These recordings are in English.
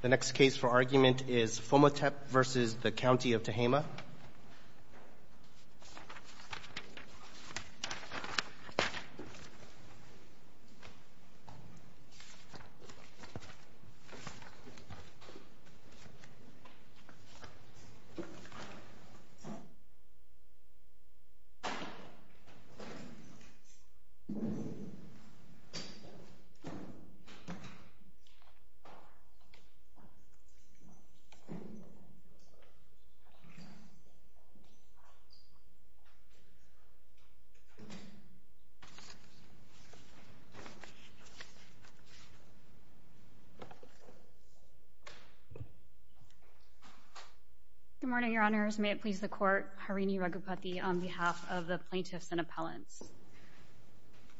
The next case for argument is Phommathep v. County of Tehama Good morning, Your Honors. May it please the Court. Harini Raghupathy on behalf of the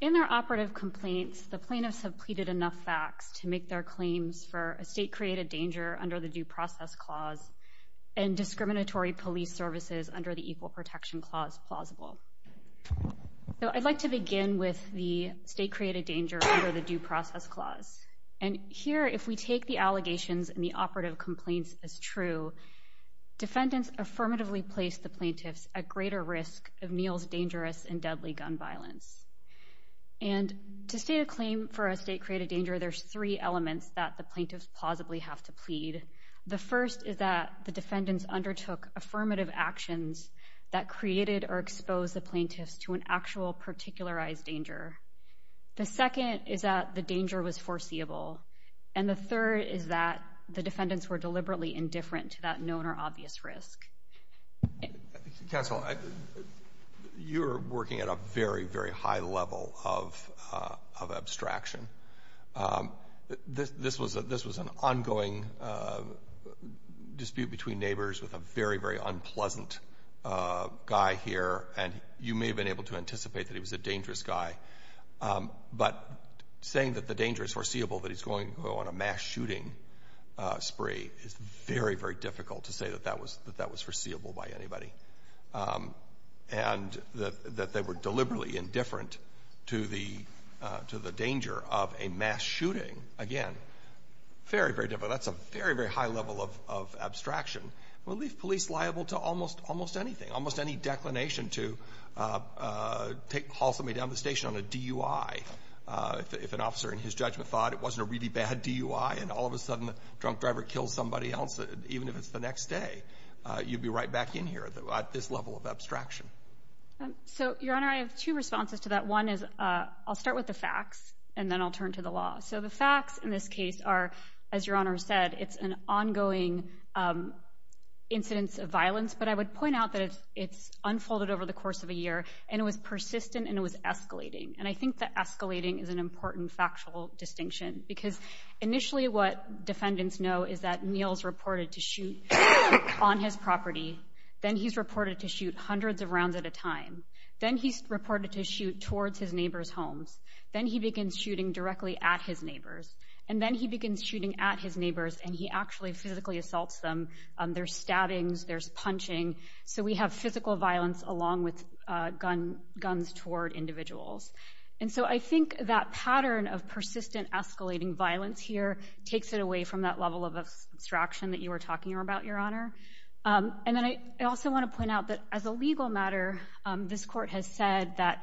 In their operative complaints, the plaintiffs have pleaded enough facts to make their claims for a state-created danger under the Due Process Clause and discriminatory police services under the Equal Protection Clause plausible. So I'd like to begin with the state-created danger under the Due Process Clause. And here, if we take the allegations in the operative complaints as true, defendants affirmatively placed the plaintiffs at greater risk of Neal's dangerous and deadly gun violence. And to state a claim for a state-created danger, there's three elements that the plaintiffs plausibly have to plead. The first is that the defendants undertook affirmative actions that created or exposed the plaintiffs to an actual particularized danger. The second is that the danger was foreseeable. And the third is that the defendants were deliberately indifferent to that known or obvious risk. Counsel, you're working at a very, very high level of abstraction. This was an ongoing dispute between neighbors with a very, very unpleasant guy here, and you may have been able to anticipate that he was a dangerous guy. But saying that the danger is foreseeable, that he's going to go on a mass shooting spree, is very, very difficult to say that that was that that was foreseeable by anybody. And that they were deliberately indifferent to the danger of a mass shooting. Again, very, very difficult. That's a very, very high level of abstraction. We'll leave police liable to almost anything, almost any declination to take, haul somebody down the station on a DUI. If an officer in his judgment thought it wasn't a really bad DUI, and all of a sudden the drunk driver kills somebody else, even if it's the next day, you'd be right back in here at this level of abstraction. So, Your Honor, I have two responses to that. One is, I'll start with the facts, and then I'll turn to the law. So the facts in this case are, as Your Honor said, it's an ongoing incidence of violence. But I would point out that it's unfolded over the course of a year, and it was persistent, and it was escalating. And I think that escalating is an important factual distinction, because initially what defendants know is that Neal's reported to shoot on his property. Then he's reported to shoot hundreds of rounds at a time. Then he's reported to shoot towards his neighbor's homes. Then he begins shooting directly at his neighbors. And then he begins shooting at his neighbors, and he actually physically assaults them. There's stabbings. There's punching. So we have physical violence along with guns toward individuals. And so I think that pattern of persistent escalating violence here takes it away from that level of abstraction that you were talking about, Your Honor. And then I also want to point out that as a legal matter, this court has said that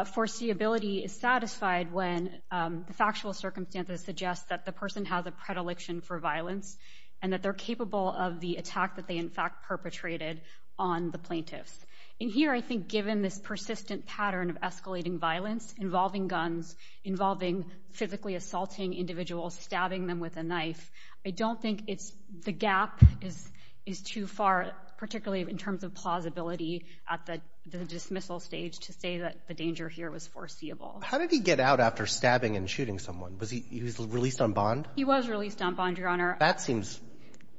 foreseeability is satisfied when the factual circumstances suggest that the person has a predilection for violence, and that they're capable of the attack that they in fact perpetrated on the plaintiffs. And here, I think given this persistent pattern of escalating violence involving guns, involving physically assaulting individuals, stabbing them with a knife, I don't think the gap is too far, particularly in terms of plausibility at the dismissal stage, to say that the danger here was foreseeable. How did he get out after stabbing and shooting someone? Was he released on bond? He was released on bond, Your Honor. That seems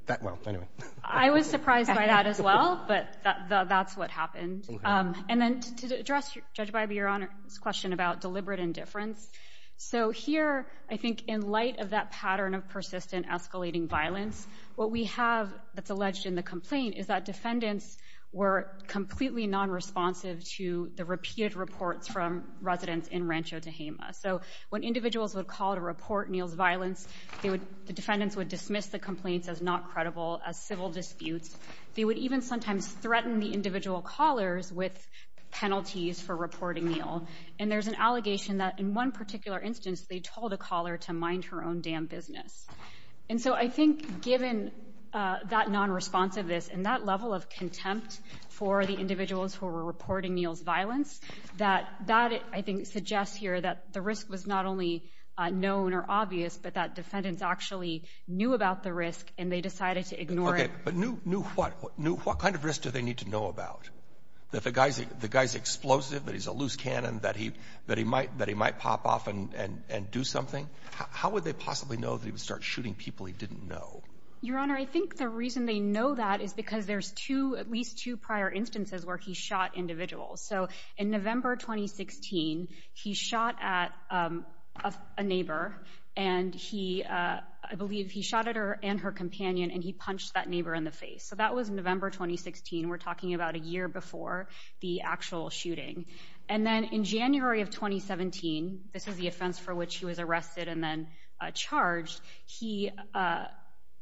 that well, anyway. I was surprised by that as well, but that's what happened. And then to address Judge Bybee, Your Honor's question about deliberate indifference. So here, I think in light of that pattern of persistent escalating violence, what we have that's alleged in the complaint is that defendants were subject to the repeated reports from residents in Rancho Tehama. So when individuals would call to report Neal's violence, the defendants would dismiss the complaints as not credible, as civil disputes. They would even sometimes threaten the individual callers with penalties for reporting Neal. And there's an allegation that in one particular instance, they told a caller to mind her own damn business. And so I think given that non-responsiveness and that level of contempt for the individuals who were reporting Neal's violence, that that, I think, suggests here that the risk was not only known or obvious, but that defendants actually knew about the risk and they decided to ignore it. But knew what? Knew what kind of risk do they need to know about? That the guy's explosive, that he's a loose cannon, that he might pop off and do something. How would they possibly know that he would start shooting people he didn't know? Your Honor, I think the reason they know that is because there's two, at least two, prior instances where he shot individuals. So in November 2016, he shot at a neighbor and he, I believe he shot at her and her companion and he punched that neighbor in the face. So that was November 2016. We're talking about a year before the actual shooting. And then in January of 2017, this is the offense for which he was arrested and then charged, he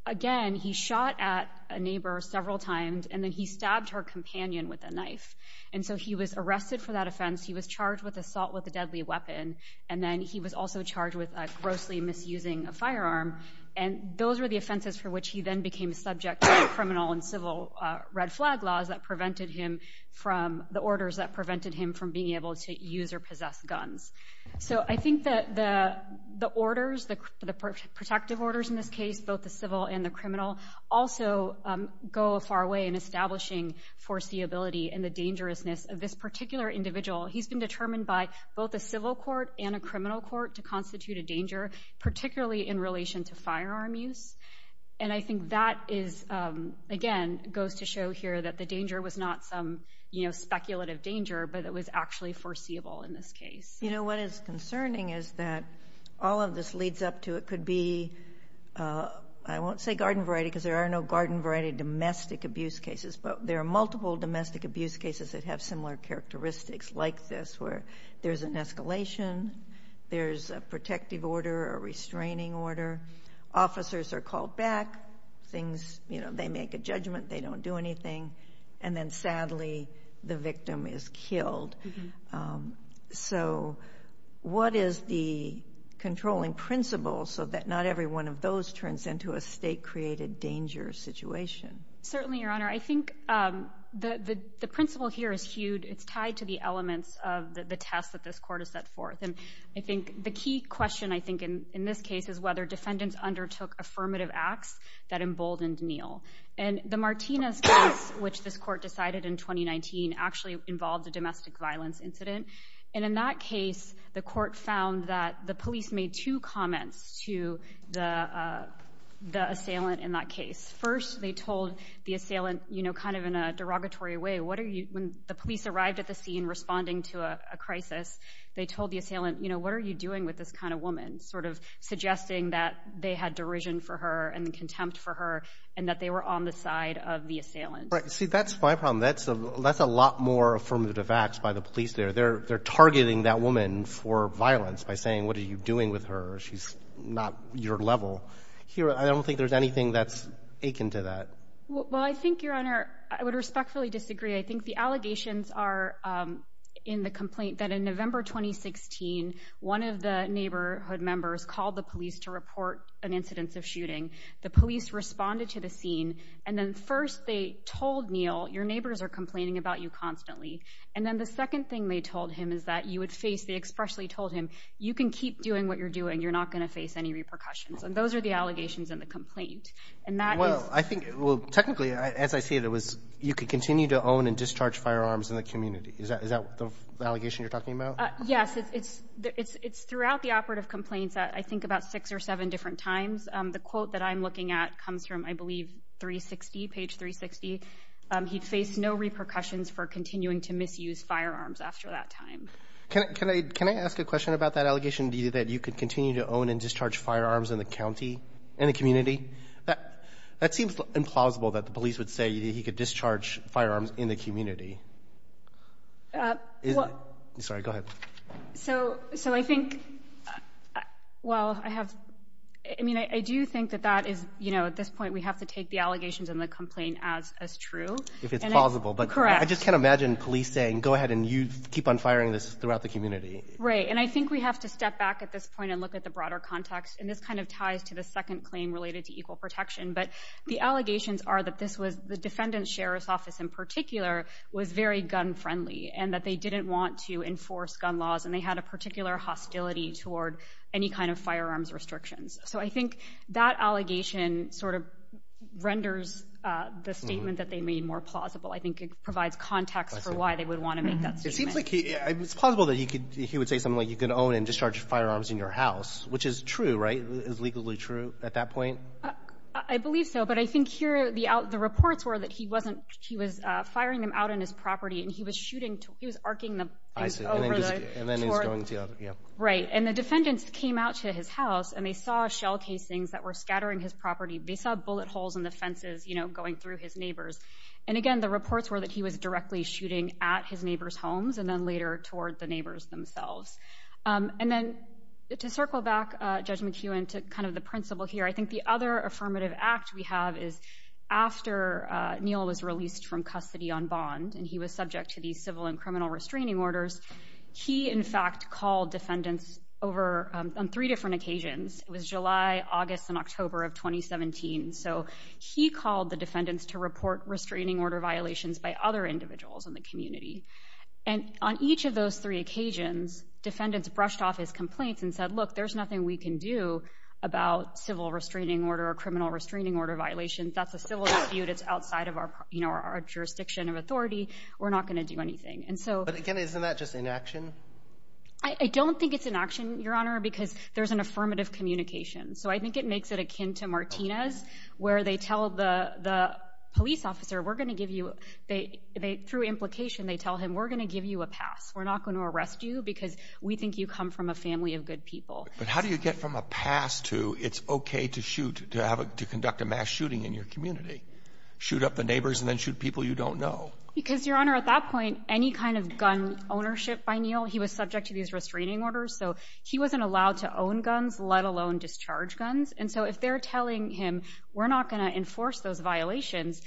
again, he shot at a neighbor several times and then he stabbed her companion with a knife. And so he was arrested for that offense. He was charged with assault with a deadly weapon. And then he was also charged with grossly misusing a firearm. And those were the offenses for which he then became subject to criminal and civil red flag laws that prevented him from, the orders that prevented him from being able to use or possess guns. So I think that the, the orders, the protective orders in this case, both the civil and the criminal also go far away in establishing foreseeability and the dangerousness of this particular individual. He's been determined by both the civil court and a criminal court to constitute a danger, particularly in relation to firearm use. And I think that is, again, goes to show here that the danger was not some, you know, speculative danger, but it was actually foreseeable in this case. You know, what is concerning is that all of this leads up to, it could be, I won't say garden variety because there are no garden variety domestic abuse cases, but there are multiple domestic abuse cases that have similar characteristics like this, where there's an escalation, there's a protective order, a restraining order. Officers are called back, things, you know, they make a judgment, they don't do anything. And then sadly, the victim is killed. So what is the controlling principle so that not every one of those turns into a state created danger situation? Certainly, Your Honor, I think the principle here is huge. It's tied to the elements of the test that this court has set forth. And I think the key question, I think, in this case is whether defendants undertook affirmative acts that emboldened Neal. And the Martinez case, which this court decided in 2019, actually involved a domestic violence incident. And in that case, the court found that the police made two comments to the assailant in that case. First, they told the assailant, you know, kind of in a derogatory way, when the police arrived at the scene responding to a crisis, they told the assailant, you know, sort of suggesting that they had derision for her and contempt for her and that they were on the side of the assailant. Right. See, that's my problem. That's a lot more affirmative acts by the police there. They're targeting that woman for violence by saying, what are you doing with her? She's not your level here. I don't think there's anything that's akin to that. Well, I think, Your Honor, I would respectfully disagree. I think the allegations are in the complaint that in November 2016, one of the neighborhood members called the police to report an incident of shooting. The police responded to the scene. And then first they told Neal, your neighbors are complaining about you constantly. And then the second thing they told him is that you would face, they expressly told him, you can keep doing what you're doing. You're not going to face any repercussions. And those are the allegations in the complaint. And that is. Well, I think, well, technically, as I see it, it was you could continue to own and discharge firearms in the community. Is that is that the allegation you're talking about? Yes. It's it's it's throughout the operative complaints that I think about six or seven different times. The quote that I'm looking at comes from, I believe, 360 page 360. He faced no repercussions for continuing to misuse firearms after that time. Can I can I can I ask a question about that allegation that you could continue to own and discharge firearms in the county and the community? That seems implausible that the police would say he could discharge firearms in the community. Sorry, go ahead. So so I think, well, I have I mean, I do think that that is, you know, at this point, we have to take the allegations in the complaint as as true if it's possible. But I just can't imagine police saying, go ahead and you keep on firing this throughout the community. Right. And I think we have to step back at this point and look at the broader context. And this kind of ties to the second claim related to equal protection. But the allegations are that this was the defendant's sheriff's office in particular was very gun friendly and that they didn't want to enforce gun laws. And they had a particular hostility toward any kind of firearms restrictions. So I think that allegation sort of renders the statement that they made more plausible. I think it provides context for why they would want to make that. It seems like it's possible that he could he would say something like you can own and discharge firearms in your house, which is true. Right. Is legally true at that point. I believe so. But I think here the out the reports were that he wasn't he was firing them out on his property and he was shooting. He was arcing them. And then he's going to get right. And the defendants came out to his house and they saw shell casings that were scattering his property. They saw bullet holes in the fences, you know, going through his neighbors. And again, the reports were that he was directly shooting at his neighbor's homes and then later toward the neighbors themselves. And then to circle back, Judge McEwen took kind of the principle here. I think the other affirmative act we have is after Neil was released from custody on bond and he was subject to these civil and criminal restraining orders. He, in fact, called defendants over on three different occasions. It was July, August and October of 2017. So he called the defendants to report restraining order violations by other individuals in the community. And on each of those three occasions, defendants brushed off his complaints and said, look, there's nothing we can do about civil restraining order or criminal restraining order violations. That's a civil dispute. It's outside of our, you know, our jurisdiction of authority. We're not going to do anything. And so again, isn't that just inaction? I don't think it's inaction, Your Honor, because there's an affirmative communication. So I think it makes it akin to Martinez, where they tell the police officer, we're going to give you, through implication, they tell him, we're going to give you a pass. We're not going to arrest you because we think you come from a family of good people. But how do you get from a pass to it's OK to shoot, to conduct a mass shooting in your community, shoot up the neighbors and then shoot people you don't know? Because, Your Honor, at that point, any kind of gun ownership by Neil, he was subject to these restraining orders. So he wasn't allowed to own guns, let alone discharge guns. And so if they're telling him we're not going to enforce those violations,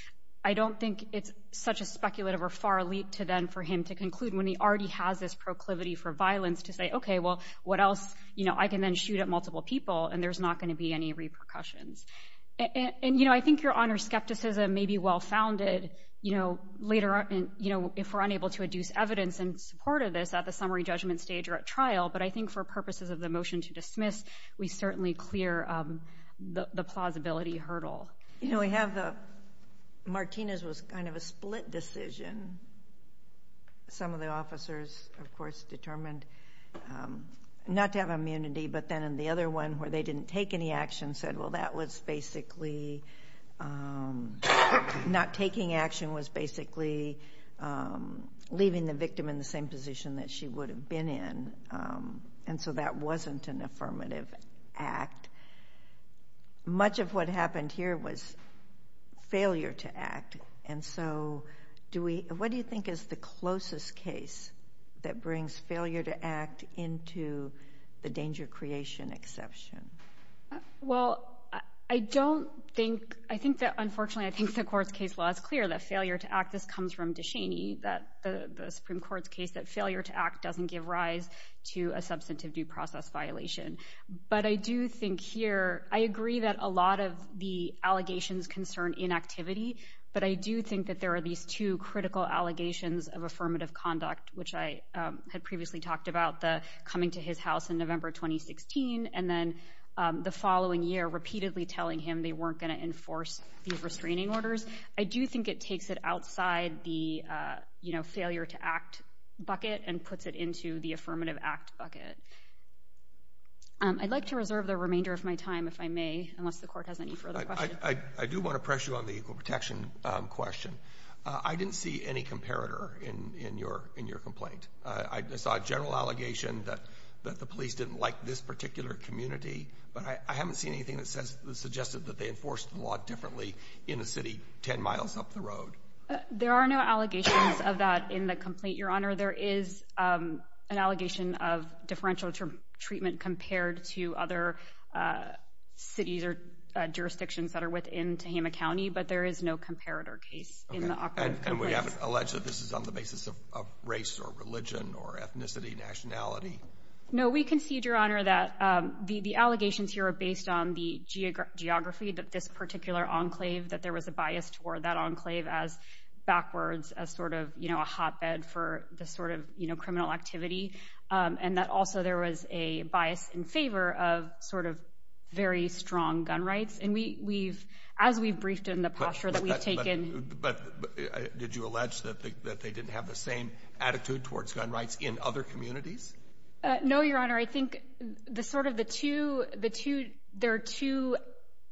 I don't think it's such a speculative or far leap to then for him to conclude when he already has this proclivity for violence to say, OK, well, what else? You know, I can then shoot at multiple people and there's not going to be any repercussions. And, you know, I think, Your Honor, skepticism may be well founded, you know, later on, you know, if we're unable to adduce evidence in support of this at the summary judgment stage or at trial. But I think for purposes of the motion to dismiss, we certainly clear the plausibility hurdle. You know, we have the Martinez was kind of a split decision. Some of the officers, of course, determined not to have immunity, but then in the other one where they didn't take any action said, well, that was basically not taking action was basically leaving the victim in the same position that she would have been in. And so that wasn't an affirmative act. Much of what happened here was failure to act. And so do we what do you think is the closest case that brings failure to act into the danger creation exception? Well, I don't think I think that unfortunately, I think the court's case law is clear that failure to act. This comes from DeShaney that the Supreme Court's case that failure to act doesn't give rise to a substantive due process violation. But I do think here I agree that a lot of the allegations concern inactivity. But I do think that there are these two critical allegations of affirmative conduct, which I had previously talked about the coming to his house in November 2016 and then the following year, repeatedly telling him they weren't going to enforce these restraining orders. I do think it takes it outside the failure to act bucket and puts it into the affirmative act bucket. I'd like to reserve the remainder of my time, if I may, unless the court has any further. I do want to pressure on the protection question. I didn't see any comparator in your in your complaint. I saw a general allegation that that the police didn't like this particular community, but I haven't seen anything that says that suggested that they enforced a lot differently in a city 10 miles up the road. There are no allegations of that in the complaint. Your Honor, there is an allegation of differential treatment compared to other cities or jurisdictions that are within to him a county. But there is no comparator case and we haven't alleged that this is on the basis of race or religion or ethnicity, nationality. No, we concede, Your Honor, that the allegations here are based on the geography that this particular enclave, that there was a bias toward that enclave as backwards, as sort of a hotbed for the sort of criminal activity. And that also there was a bias in favor of sort of very strong gun rights. And we we've as we've briefed in the posture that we've taken. But did you allege that they didn't have the same attitude towards gun rights in other communities? No, Your Honor, I think the sort of the two the two there are two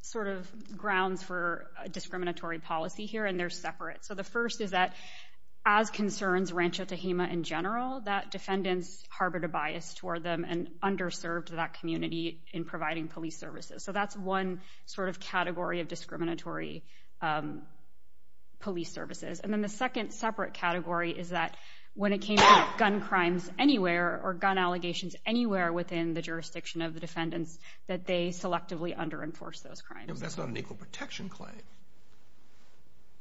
sort of grounds for discriminatory policy here, and they're separate. So the first is that as concerns Rancho Tehama in general, that defendants harbored a bias toward them and underserved that community in providing police services. So that's one sort of category of discriminatory police services. And then the second separate category is that when it came to gun crimes anywhere or gun allegations anywhere within the jurisdiction of the defendants, that they selectively under enforce those crimes. That's not an equal protection claim.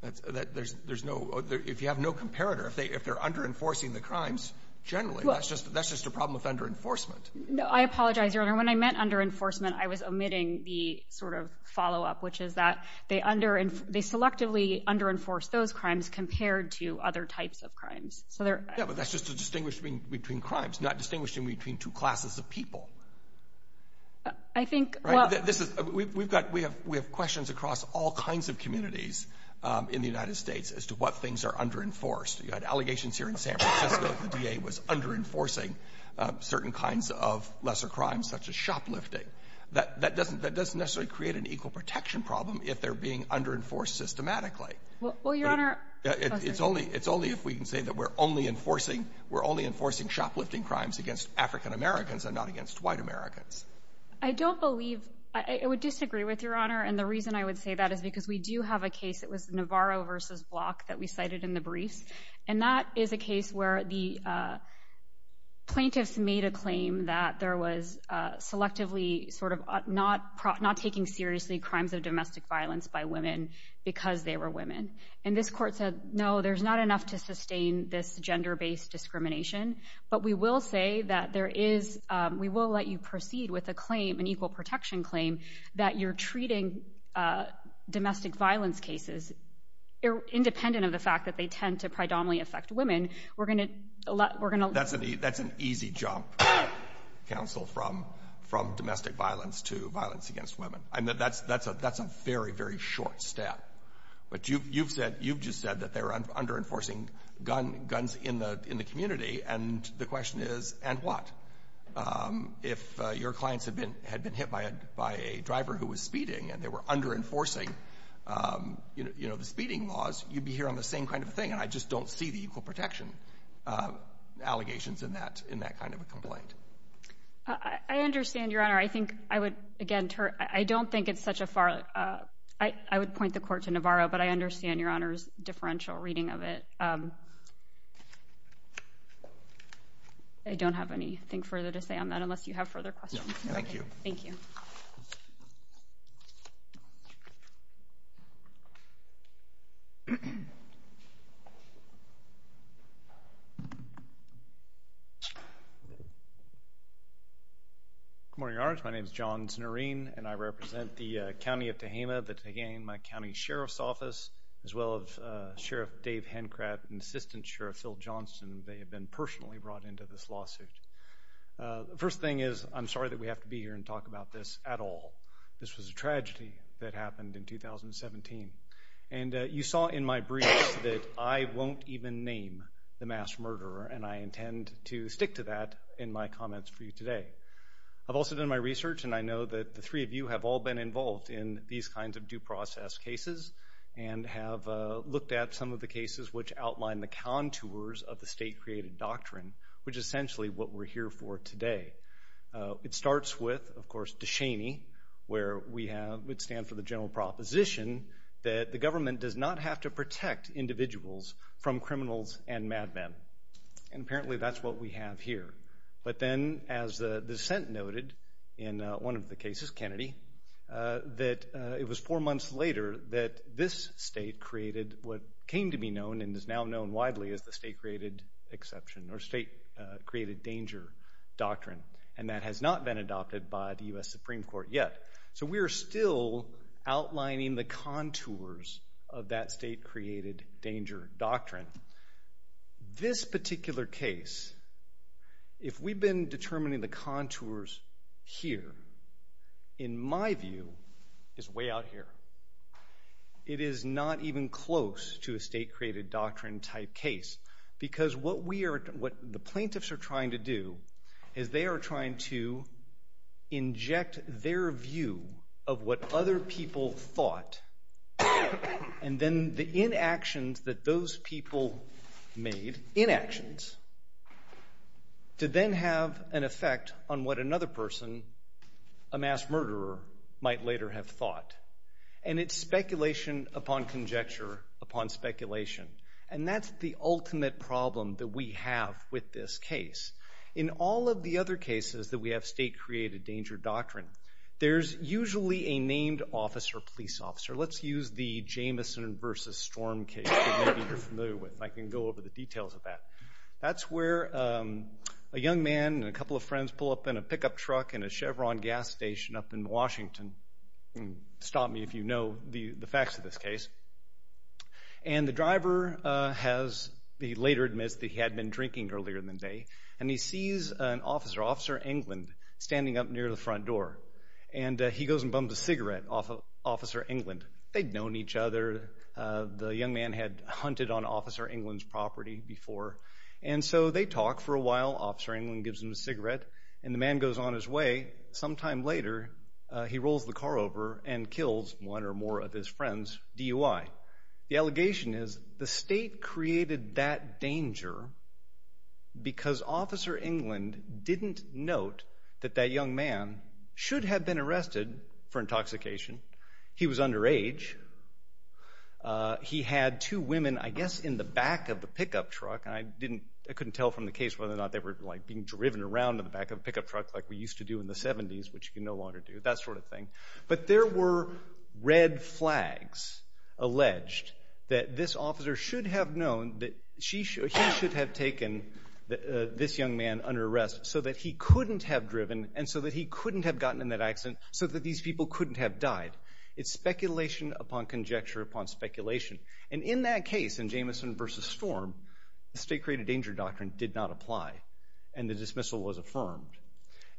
That's that there's there's no if you have no comparator, if they if they're under enforcing the crimes, generally, that's just that's just a problem with under enforcement. No, I apologize, Your Honor. When I meant under enforcement, I was omitting the sort of follow up, which is that they under and they selectively under enforce those crimes compared to other types of crimes. So there. Yeah, but that's just a distinguishing between crimes, not distinguishing between two classes of people. I think this is we've got we have we have questions across all kinds of communities in the United States as to what things are under enforced. You had allegations here in San Francisco. The D.A. was under enforcing certain kinds of lesser crimes such as shoplifting. That that doesn't that doesn't necessarily create an equal protection problem if they're being under enforced systematically. Well, Your Honor, it's only it's only if we can say that we're only enforcing we're only enforcing shoplifting crimes against African-Americans and not against white Americans. I don't believe I would disagree with your honor. And the reason I would say that is because we do have a case. It was Navarro versus block that we cited in the briefs. And that is a case where the. Plaintiffs made a claim that there was selectively sort of not not taking seriously crimes of domestic violence by women because they were women. And this court said, no, there's not enough to sustain this gender based discrimination. But we will say that there is we will let you proceed with a claim, an equal protection claim that you're treating domestic violence cases independent of the fact that they tend to predominantly affect women. We're going to we're going to. That's a that's an easy jump, counsel, from from domestic violence to violence against women. And that's that's a that's a very, very short step. But you've you've said you've just said that they're under enforcing gun guns in the in the community. And the question is, and what if your clients have been had been hit by a by a driver who was speeding and they were under enforcing, you know, the speeding laws, you'd be here on the same kind of thing. And I just don't see the equal protection allegations in that in that kind of a complaint. I understand your honor. I think I would again, I don't think it's such a far I would point the court to Navarro, but I understand your honor's differential reading of it. I don't have anything further to say on that unless you have further questions. Thank you. Thank you. Good morning, your honor. My name is John Snurin, and I represent the county of Tehama, the Tehama County Sheriff's Office, as well as Sheriff Dave Hencraft and Assistant Sheriff Phil Johnston. They have been personally brought into this lawsuit. The first thing is, I'm sorry that we have to be here and talk about this at all. This was a tragedy that happened in 2017. And you saw in my brief that I won't even name the mass murderer, and I intend to stick to that in my comments for you today. I've also done my research, and I know that the three of you have all been involved in these kinds of due process cases and have looked at some of the cases which outline the contours of the state created doctrine, which is essentially what we're here for today. It starts with, of course, Deshaney, where we would stand for the general proposition that the government does not have to protect individuals from criminals and madmen. And apparently that's what we have here. But then, as the dissent noted in one of the cases, Kennedy, that it was four months later that this state created what came to be known and is now known widely as the state created exception or state created danger doctrine. And that has not been adopted by the U.S. Supreme Court yet. So we are still outlining the contours of that state created danger doctrine. This particular case, if we've been determining the contours here, in my view, is way out here. It is not even close to a state created doctrine type case. Because what we are, what the plaintiffs are trying to do is they are trying to inject their view of what other people thought and then the inactions that those people made, inactions, to then have an effect on what another person, a mass murderer, might later have thought. And it's speculation upon conjecture upon speculation. And that's the ultimate problem that we have with this case. In all of the other cases that we have state created danger doctrine, there's usually a named officer, police officer. Let's use the Jameson versus Storm case that maybe you're familiar with. I can go over the details of that. That's where a young man and a couple of friends pull up in a pickup truck in a Chevron gas station up in Washington. Stop me if you know the facts of this case. And the driver has, he later admits that he had been drinking earlier in the day. And he sees an officer, Officer England, standing up near the front door. And he goes and bums a cigarette off of Officer England. They'd known each other. The young man had hunted on Officer England's property before. And so they talk for a while. Officer England gives him a cigarette. And the man goes on his way. Sometime later, he rolls the car over and kills one or more of his friends, DUI. The allegation is the state created that danger because Officer England didn't note that that young man should have been arrested for intoxication. He was underage. He had two women, I guess, in the back of the pickup truck. And I couldn't tell from the case whether or not they were being driven around in the back of a pickup truck like we used to do in the 70s, which you can no longer do, that sort of thing. But there were red flags alleged that this officer should have known that he should have taken this young man under arrest so that he couldn't have driven and so that he couldn't have gotten in that accident so that these people couldn't have died. It's speculation upon conjecture upon speculation. And in that case, in Jamison v. Storm, the state created danger doctrine did not apply. And the dismissal was affirmed.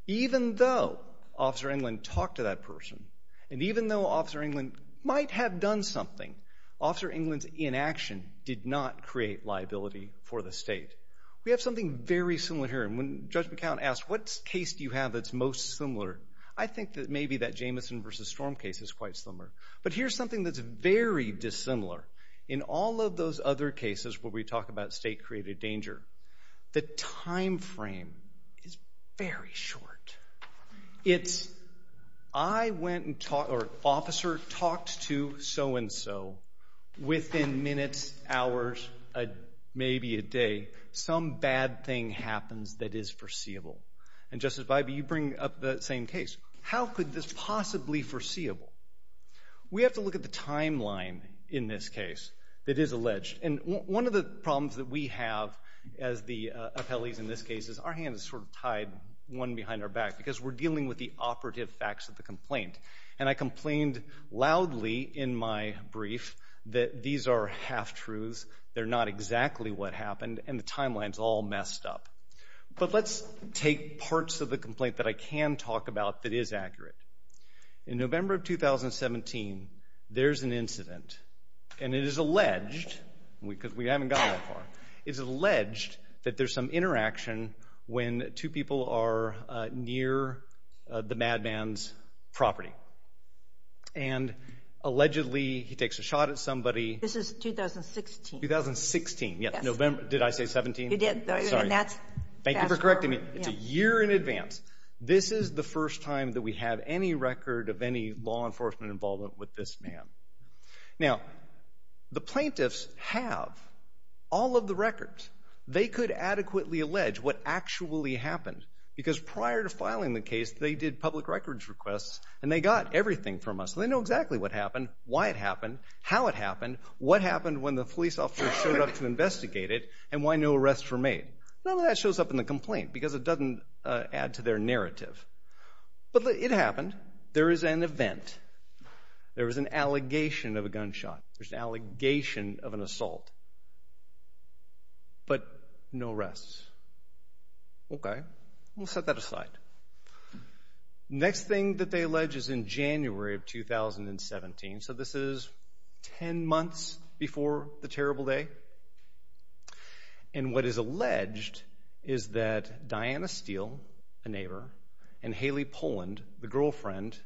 Even though Officer England talked to that person, and even though Officer England might have done something, Officer England's inaction did not create liability for the state. We have something very similar here. And when Judge McCown asked, what case do you have that's most similar? I think that maybe that Jamison v. Storm case is quite similar. But here's something that's very dissimilar. In all of those other cases where we talk about state-created danger, the time frame is very short. It's, I went and talked, or Officer talked to so-and-so, within minutes, hours, maybe a day, some bad thing happens that is foreseeable. And Justice Bybee, you bring up the same case. How could this possibly foreseeable? We have to look at the timeline in this case that is alleged. And one of the problems that we have as the appellees in this case is our hand is sort of tied, one behind our back, because we're dealing with the operative facts of the complaint. And I complained loudly in my brief that these are half-truths, they're not exactly what happened, and the timeline's all messed up. But let's take parts of the complaint that I can talk about that is accurate. In November of 2017, there's an incident, and it is alleged, because we haven't gotten that far, it's alleged that there's some interaction when two people are near the madman's property. And allegedly, he takes a shot at somebody. This is 2016. 2016, yes. November, did I say 17? You did. Sorry. Thank you for correcting me. It's a year in advance. This is the first time that we have any record of any law enforcement involvement with this man. Now, the plaintiffs have all of the records. They could adequately allege what actually happened. Because prior to filing the case, they did public records requests, and they got everything from us. So they know exactly what happened, why it happened, how it happened, what happened when the police officer showed up to investigate it, and why no arrests were made. None of that shows up in the complaint, because it doesn't add to their narrative. But it happened. There is an event. There was an allegation of a gunshot. There's an allegation of an assault. But no arrests. Okay. We'll set that aside. Next thing that they allege is in January of 2017. So this is 10 months before the terrible day. And what is alleged is that Diana Steele, a neighbor, and Haley Poland, the girlfriend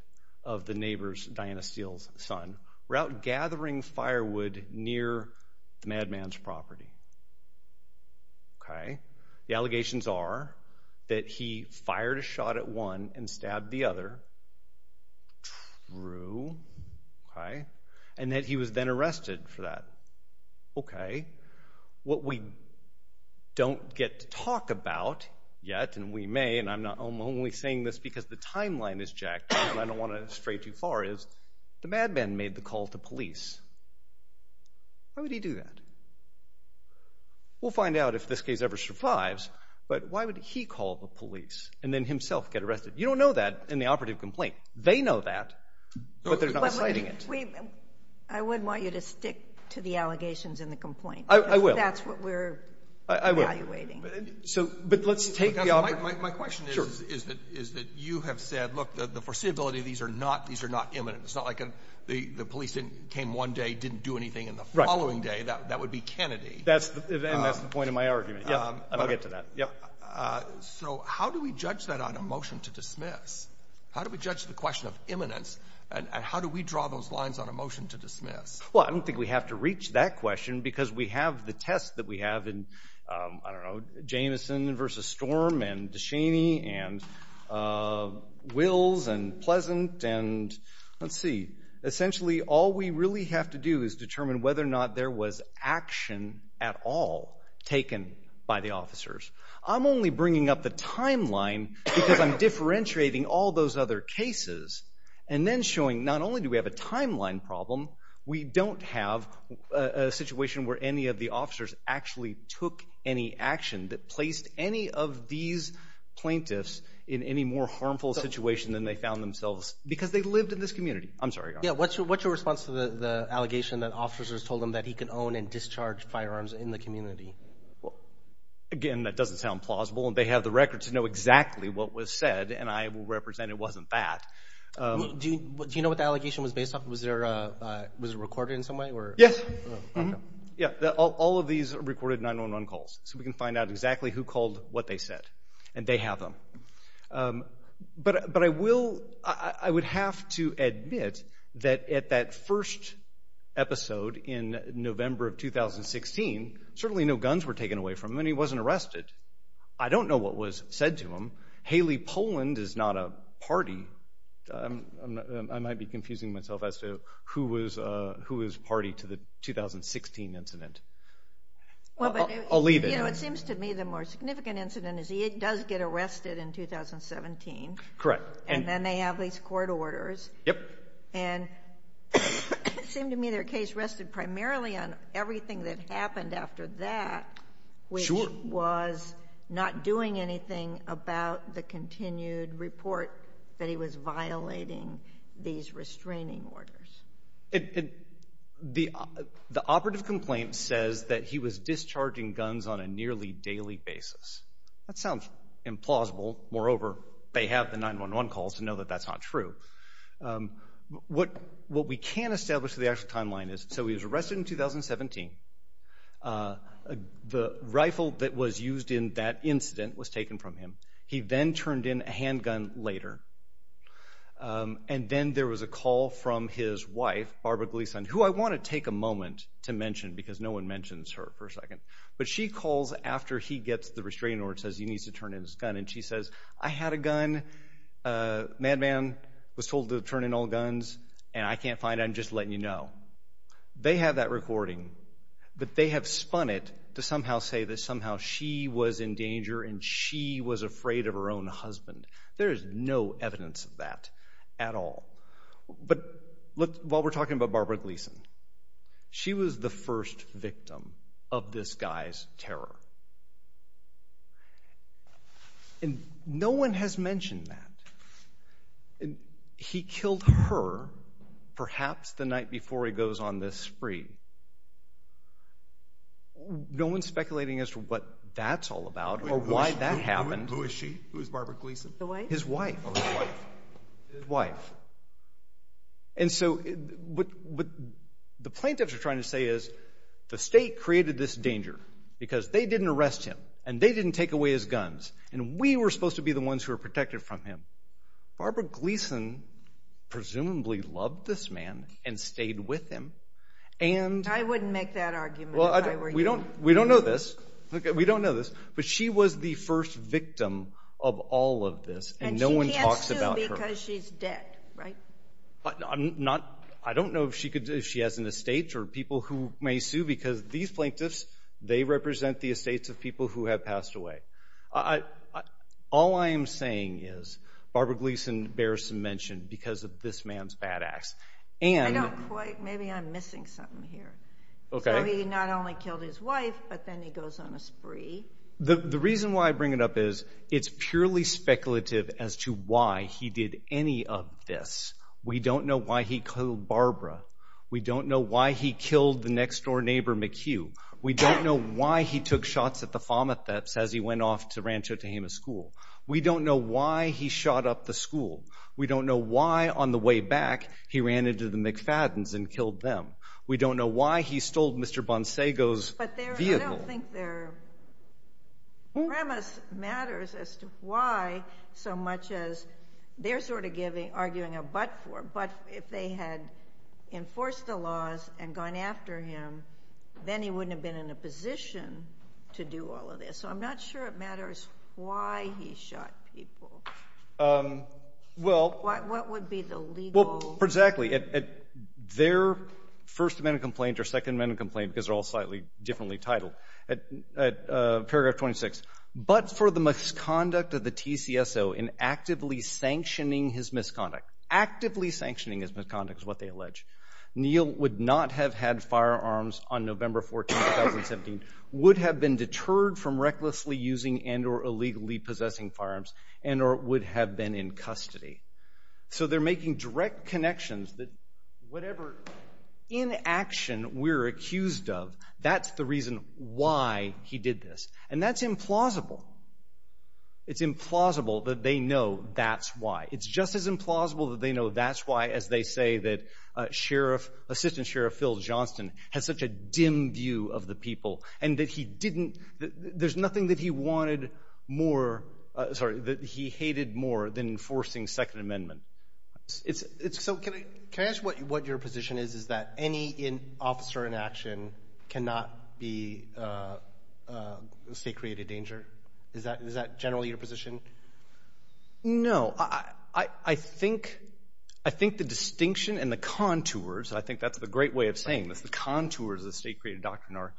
of the neighbor's, Diana Steele's, son, were out gathering firewood near the madman's property. Okay. The allegations are that he fired a shot at one and stabbed the other. True. Okay. And that he was then arrested for that. Okay. What we don't get to talk about yet, and we may, and I'm only saying this because the timeline is jacked, and I don't want to stray too far, is the madman made the call to police. Why would he do that? We'll find out if this case ever survives, but why would he call the police and then himself get arrested? You don't know that in the operative complaint. They know that, but they're not citing it. I would want you to stick to the allegations in the complaint. I will. Because that's what we're evaluating. But let's take the operative. My question is that you have said, look, the foreseeability, these are not imminent. It's not like the police came one day, didn't do anything, and the following day, that would be Kennedy. And that's the point of my argument. I'll get to that. So how do we judge that on a motion to dismiss? How do we judge the question of imminence? And how do we draw those lines on a motion to dismiss? Well, I don't think we have to reach that question because we have the test that we have in, I don't know, Jamison v. Storm, and DeShaney, and Wills, and Pleasant, and let's see. Essentially, all we really have to do is determine whether or not there was action at all taken by the officers. I'm only bringing up the timeline because I'm differentiating all those other cases and then showing not only do we have a timeline problem, we don't have a situation where any of the officers actually took any action that placed any of these plaintiffs in any more harmful situation than they found themselves, because they lived in this community. I'm sorry. Yeah, what's your response to the allegation that officers told him that he could own and discharge firearms in the community? Well, again, that doesn't sound plausible, and they have the record to know exactly what was said, and I will represent it wasn't that. Do you know what the allegation was based on? Was it recorded in some way? Yes. All of these are recorded 911 calls, so we can find out exactly who called, what they said, and they have them. But I would have to admit that at that first episode in November of 2016, certainly no guns were taken away from him, and he wasn't arrested. I don't know what was said to him. Haley Poland is not a party. I might be confusing myself as to who was party to the 2016 incident. I'll leave it. You know, it seems to me the more significant incident is he does get arrested in 2017. Correct. And then they have these court orders. Yep. And it seemed to me their case rested primarily on everything that happened after that. Sure. Which was not doing anything about the continued report that he was violating these restraining orders. The operative complaint says that he was discharging guns on a nearly daily basis. That sounds implausible. Moreover, they have the 911 calls to know that that's not true. What we can establish in the actual timeline is, so he was arrested in 2017. The rifle that was used in that incident was taken from him. He then turned in a handgun later. And then there was a call from his wife, Barbara Gleason, who I want to take a moment to mention because no one mentions her for a second. But she calls after he gets the restraining order and says he needs to turn in his gun. And she says, I had a gun. Madman was told to turn in all guns. And I can't find it. I'm just letting you know. They have that recording. But they have spun it to somehow say that somehow she was in danger and she was afraid of her own husband. There is no evidence of that at all. But while we're talking about Barbara Gleason, she was the first victim of this guy's terror. And no one has mentioned that. He killed her perhaps the night before he goes on this spree. No one's speculating as to what that's all about or why that happened. Who is she? Who is Barbara Gleason? His wife. His wife. And so what the plaintiffs are trying to say is the state created this danger because they didn't arrest him. And they didn't take away his guns. And we were supposed to be the ones who were protected from him. Barbara Gleason presumably loved this man and stayed with him. I wouldn't make that argument if I were you. We don't know this. We don't know this. But she was the first victim of all of this. And no one talks about her. And she can't sue because she's dead, right? I don't know if she has an estate or people who may sue. Because these plaintiffs, they represent the estates of people who have passed away. All I am saying is Barbara Gleason bears some mention because of this man's bad acts. Maybe I'm missing something here. So he not only killed his wife, but then he goes on a spree. The reason why I bring it up is it's purely speculative as to why he did any of this. We don't know why he killed Barbara. We don't know why he killed the next door neighbor McHugh. We don't know why he took shots at the Fomatheps as he went off to Rancho Tehama School. We don't know why he shot up the school. We don't know why on the way back he ran into the McFadden's and killed them. We don't know why he stole Mr. Bonsego's vehicle. I don't think their premise matters as to why so much as they're sort of arguing a but for. But if they had enforced the laws and gone after him, then he wouldn't have been in a position to do all of this. So I'm not sure it matters why he shot people. What would be the legal... Exactly. Their first amendment complaint or second amendment complaint, because they're all slightly differently titled, at paragraph 26, but for the misconduct of the TCSO in actively sanctioning his misconduct. Actively sanctioning his misconduct is what they allege. Neil would not have had firearms on November 14, 2017, would have been deterred from recklessly using and or illegally possessing firearms, and or would have been in custody. So they're making direct connections that whatever inaction we're accused of, that's the reason why he did this. And that's implausible. It's implausible that they know that's why. It's just as implausible that they know that's why as they say that Sheriff, Assistant Sheriff Phil Johnston, has such a dim view of the people and that he didn't, there's nothing that he wanted more, sorry, that he hated more than enforcing second amendment. So can I ask what your position is, is that any officer inaction cannot be, say, created danger? Is that generally your position? No. I think the distinction and the contours, I think that's the great way of saying this, the contours of the state-created doctrine are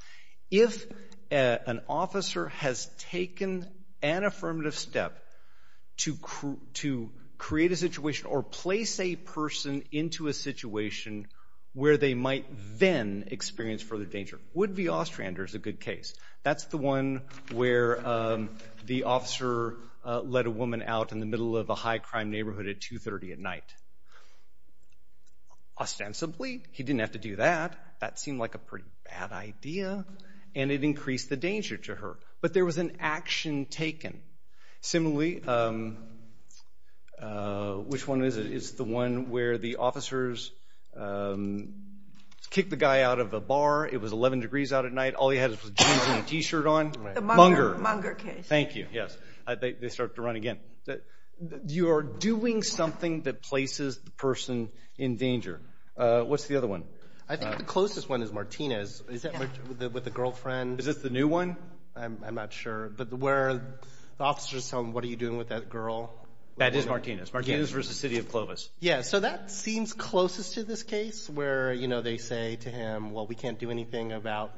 if an officer has taken an affirmative step to create a situation or place a person into a situation where they might then experience further danger. Would v. Ostrander is a good case. That's the one where the officer led a woman out in the middle of a high crime neighborhood at 2.30 at night. Ostensibly, he didn't have to do that. That seemed like a pretty bad idea. And it increased the danger to her. But there was an action taken. Similarly, which one is it? It's the one where the officers kicked the guy out of a bar. It was 11 degrees out at night. All he had was jeans and a t-shirt on. The Munger case. Thank you. They start to run again. You are doing something that places the person in danger. What's the other one? I think the closest one is Martinez. Is that with the girlfriend? Is this the new one? I'm not sure. But where the officer is telling him, what are you doing with that girl? That is Martinez. Martinez v. City of Clovis. That seems closest to this case. Where they say to him, we can't do anything about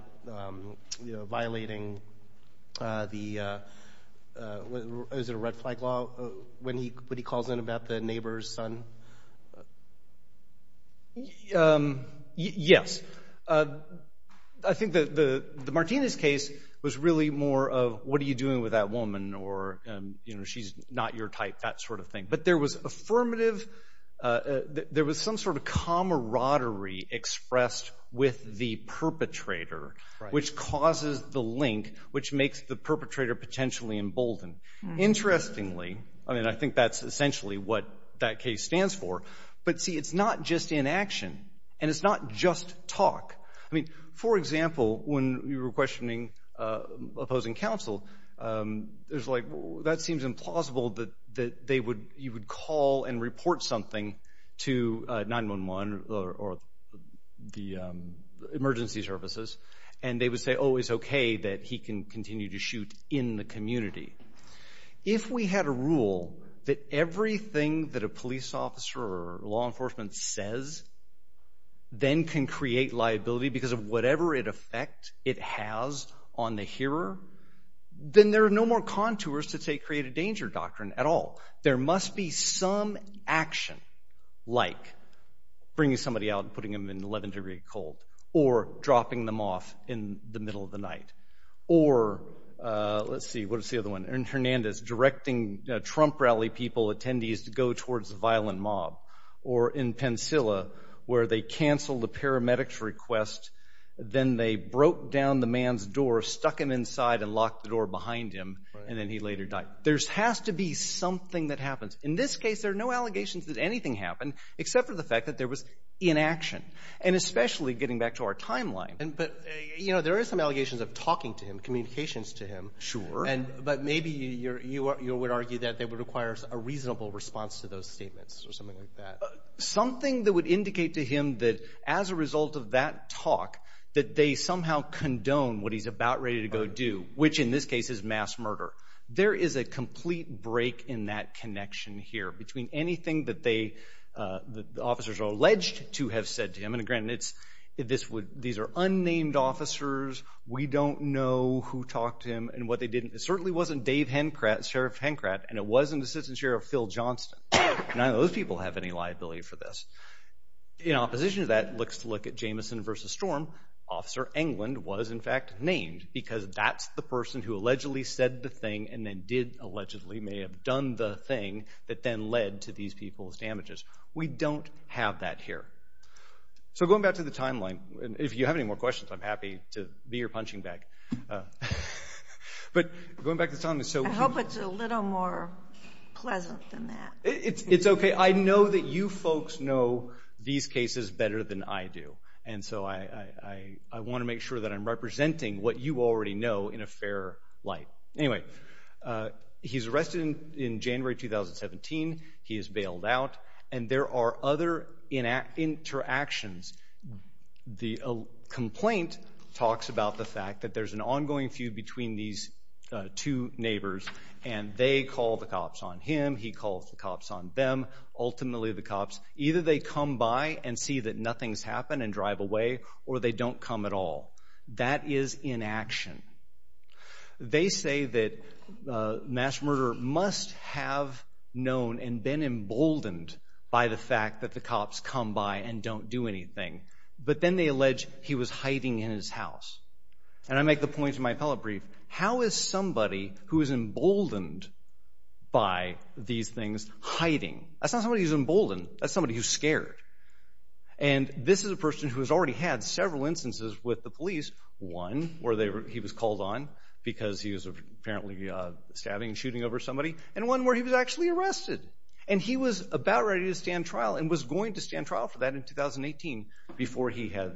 violating the, is it a red flag law? When he calls in about the neighbor's son. Yes. I think the Martinez case was really more of, what are you doing with that woman? Or she's not your type. That sort of thing. But there was affirmative, there was some sort of camaraderie expressed with the perpetrator. Right. Which causes the link, which makes the perpetrator potentially emboldened. Interestingly, I mean, I think that's essentially what that case stands for. But see, it's not just inaction. And it's not just talk. I mean, for example, when you were questioning opposing counsel, it's like, that seems implausible that you would call and report something to 911 or the emergency services. And they would say, oh, it's okay that he can continue to shoot in the community. If we had a rule that everything that a police officer or law enforcement says, then can create liability because of whatever effect it has on the hearer, then there are no more contours to say create a danger doctrine at all. There must be some action, like bringing somebody out and putting them in 11 degree cold. Or dropping them off in the middle of the night. Or, let's see, what's the other one? In Hernandez, directing Trump rally people, attendees to go towards a violent mob. Or in Pensilla, where they canceled a paramedic's request, then they broke down the man's door, stuck him inside and locked the door behind him, and then he later died. There has to be something that happens. In this case, there are no allegations that anything happened, except for the fact that there was inaction. And especially getting back to our timeline. But, you know, there are some allegations of talking to him, communications to him. Sure. But maybe you would argue that it requires a reasonable response to those statements. Or something like that. Something that would indicate to him that as a result of that talk, that they somehow condone what he's about ready to go do. Which in this case is mass murder. There is a complete break in that connection here. Between anything that the officers are alleged to have said to him, and again, these are unnamed officers, we don't know who talked to him and what they did. It certainly wasn't Dave Hencrat, Sheriff Hencrat, and it wasn't Assistant Sheriff Phil Johnston. None of those people have any liability for this. In opposition to that, let's look at Jameson v. Storm. Officer Englund was in fact named, because that's the person who allegedly said the thing and then did allegedly, may have done the thing, that then led to these people's damages. We don't have that here. So going back to the timeline, if you have any more questions, I'm happy to be your punching bag. But going back to the timeline. I hope it's a little more pleasant than that. It's okay. I know that you folks know these cases better than I do. And so I want to make sure that I'm representing what you already know in a fair light. Anyway, he's arrested in January 2017. He is bailed out. And there are other interactions. The complaint talks about the fact that there's an ongoing feud between these two neighbors. And they call the cops on him. He calls the cops on them. Ultimately, the cops, either they come by and see that nothing's happened and drive away, or they don't come at all. That is inaction. They say that mass murder must have known and been emboldened by the fact that the cops come by and don't do anything. But then they allege he was hiding in his house. And I make the point in my appellate brief, how is somebody who is emboldened by these things hiding? That's not somebody who's emboldened. That's somebody who's scared. And this is a person who has already had several instances with the police. One where he was called on because he was apparently stabbing and shooting over somebody. And one where he was actually arrested. And he was about ready to stand trial and was going to stand trial for that in 2018 before he had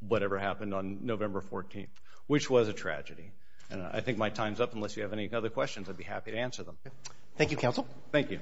whatever happened on November 14th, which was a tragedy. And I think my time's up. Unless you have any other questions, I'd be happy to answer them. Thank you, Counsel. Thank you.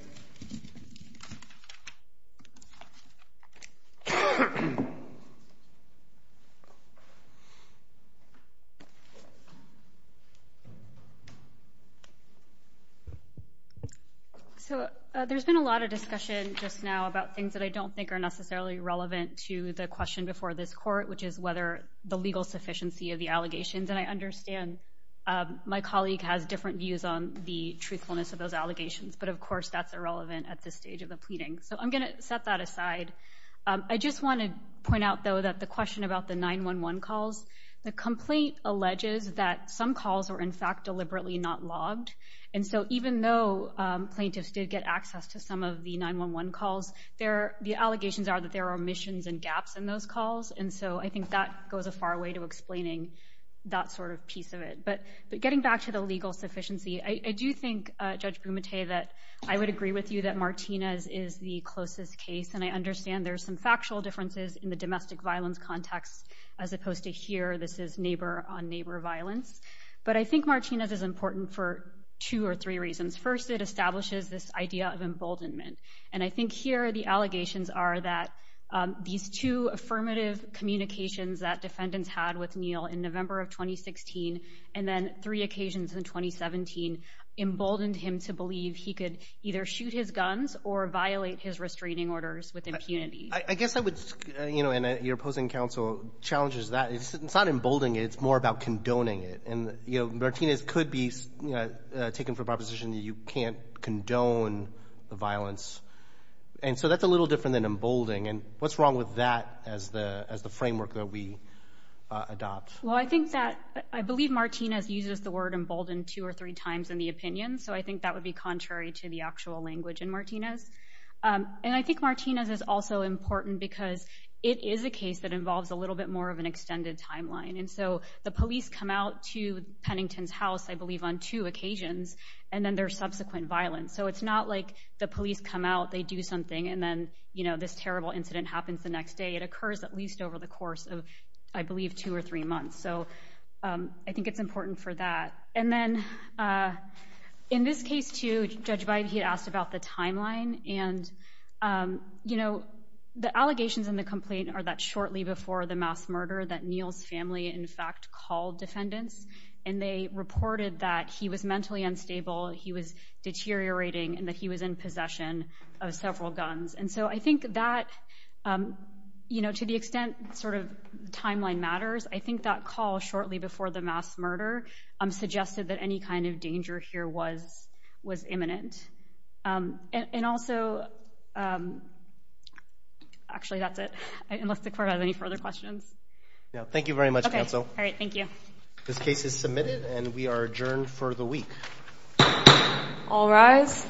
So there's been a lot of discussion just now about things that I don't think are necessarily relevant to the question before this court, which is whether the legal sufficiency of the allegations. And I understand my colleague has different views on the truthfulness of those allegations. But of course, that's irrelevant at this stage of the pleading. So I'm going to set that aside. I just want to point out, though, that the question about the 911 calls, the complaint alleges that some calls were in fact deliberately not logged. And so even though plaintiffs did get access to some of the 911 calls, the allegations are that there are omissions and gaps in those calls. And so I think that goes a far way to explaining that sort of piece of it. But getting back to the legal sufficiency, I do think, Judge Bumate, that I would agree with you that Martinez is the closest case. And I understand there's some factual differences in the domestic violence context as opposed to here, this is neighbor-on-neighbor violence. But I think Martinez is important for two or three reasons. First, it establishes this idea of emboldenment. And I think here the allegations are that these two affirmative communications that defendants had with Neal in November of 2016 and then three occasions in 2017 emboldened him to believe he could either shoot his guns or violate his restraining orders with impunity. I guess I would... And your opposing counsel challenges that. It's not emboldening it. It's more about condoning it. And Martinez could be taken for proposition that you can't condone the violence. And so that's a little different than emboldening. And what's wrong with that as the framework that we adopt? Well, I think that... I believe Martinez uses the word emboldened two or three times in the opinion. So I think that would be contrary to the actual language in Martinez. And I think Martinez is also important because it is a case that involves a little bit more of an extended timeline. And so the police come out to Pennington's house, I believe on two occasions and then there's subsequent violence. So it's not like the police come out they do something and then this terrible incident happens the next day. It occurs at least over the course of I believe two or three months. So I think it's important for that. And then in this case too, Judge Bybee asked about the timeline and the allegations in the complaint are that shortly before the mass murder that Neal's family in fact called defendants and they reported that he was mentally unstable, he was deteriorating and that he was in possession of several guns. And so I think that to the extent timeline matters I think that call shortly before the mass murder suggested that any kind of danger here was imminent. And also actually that's it. Unless the court has any further questions. Thank you very much counsel. This case is submitted and we are adjourned for the week. All rise.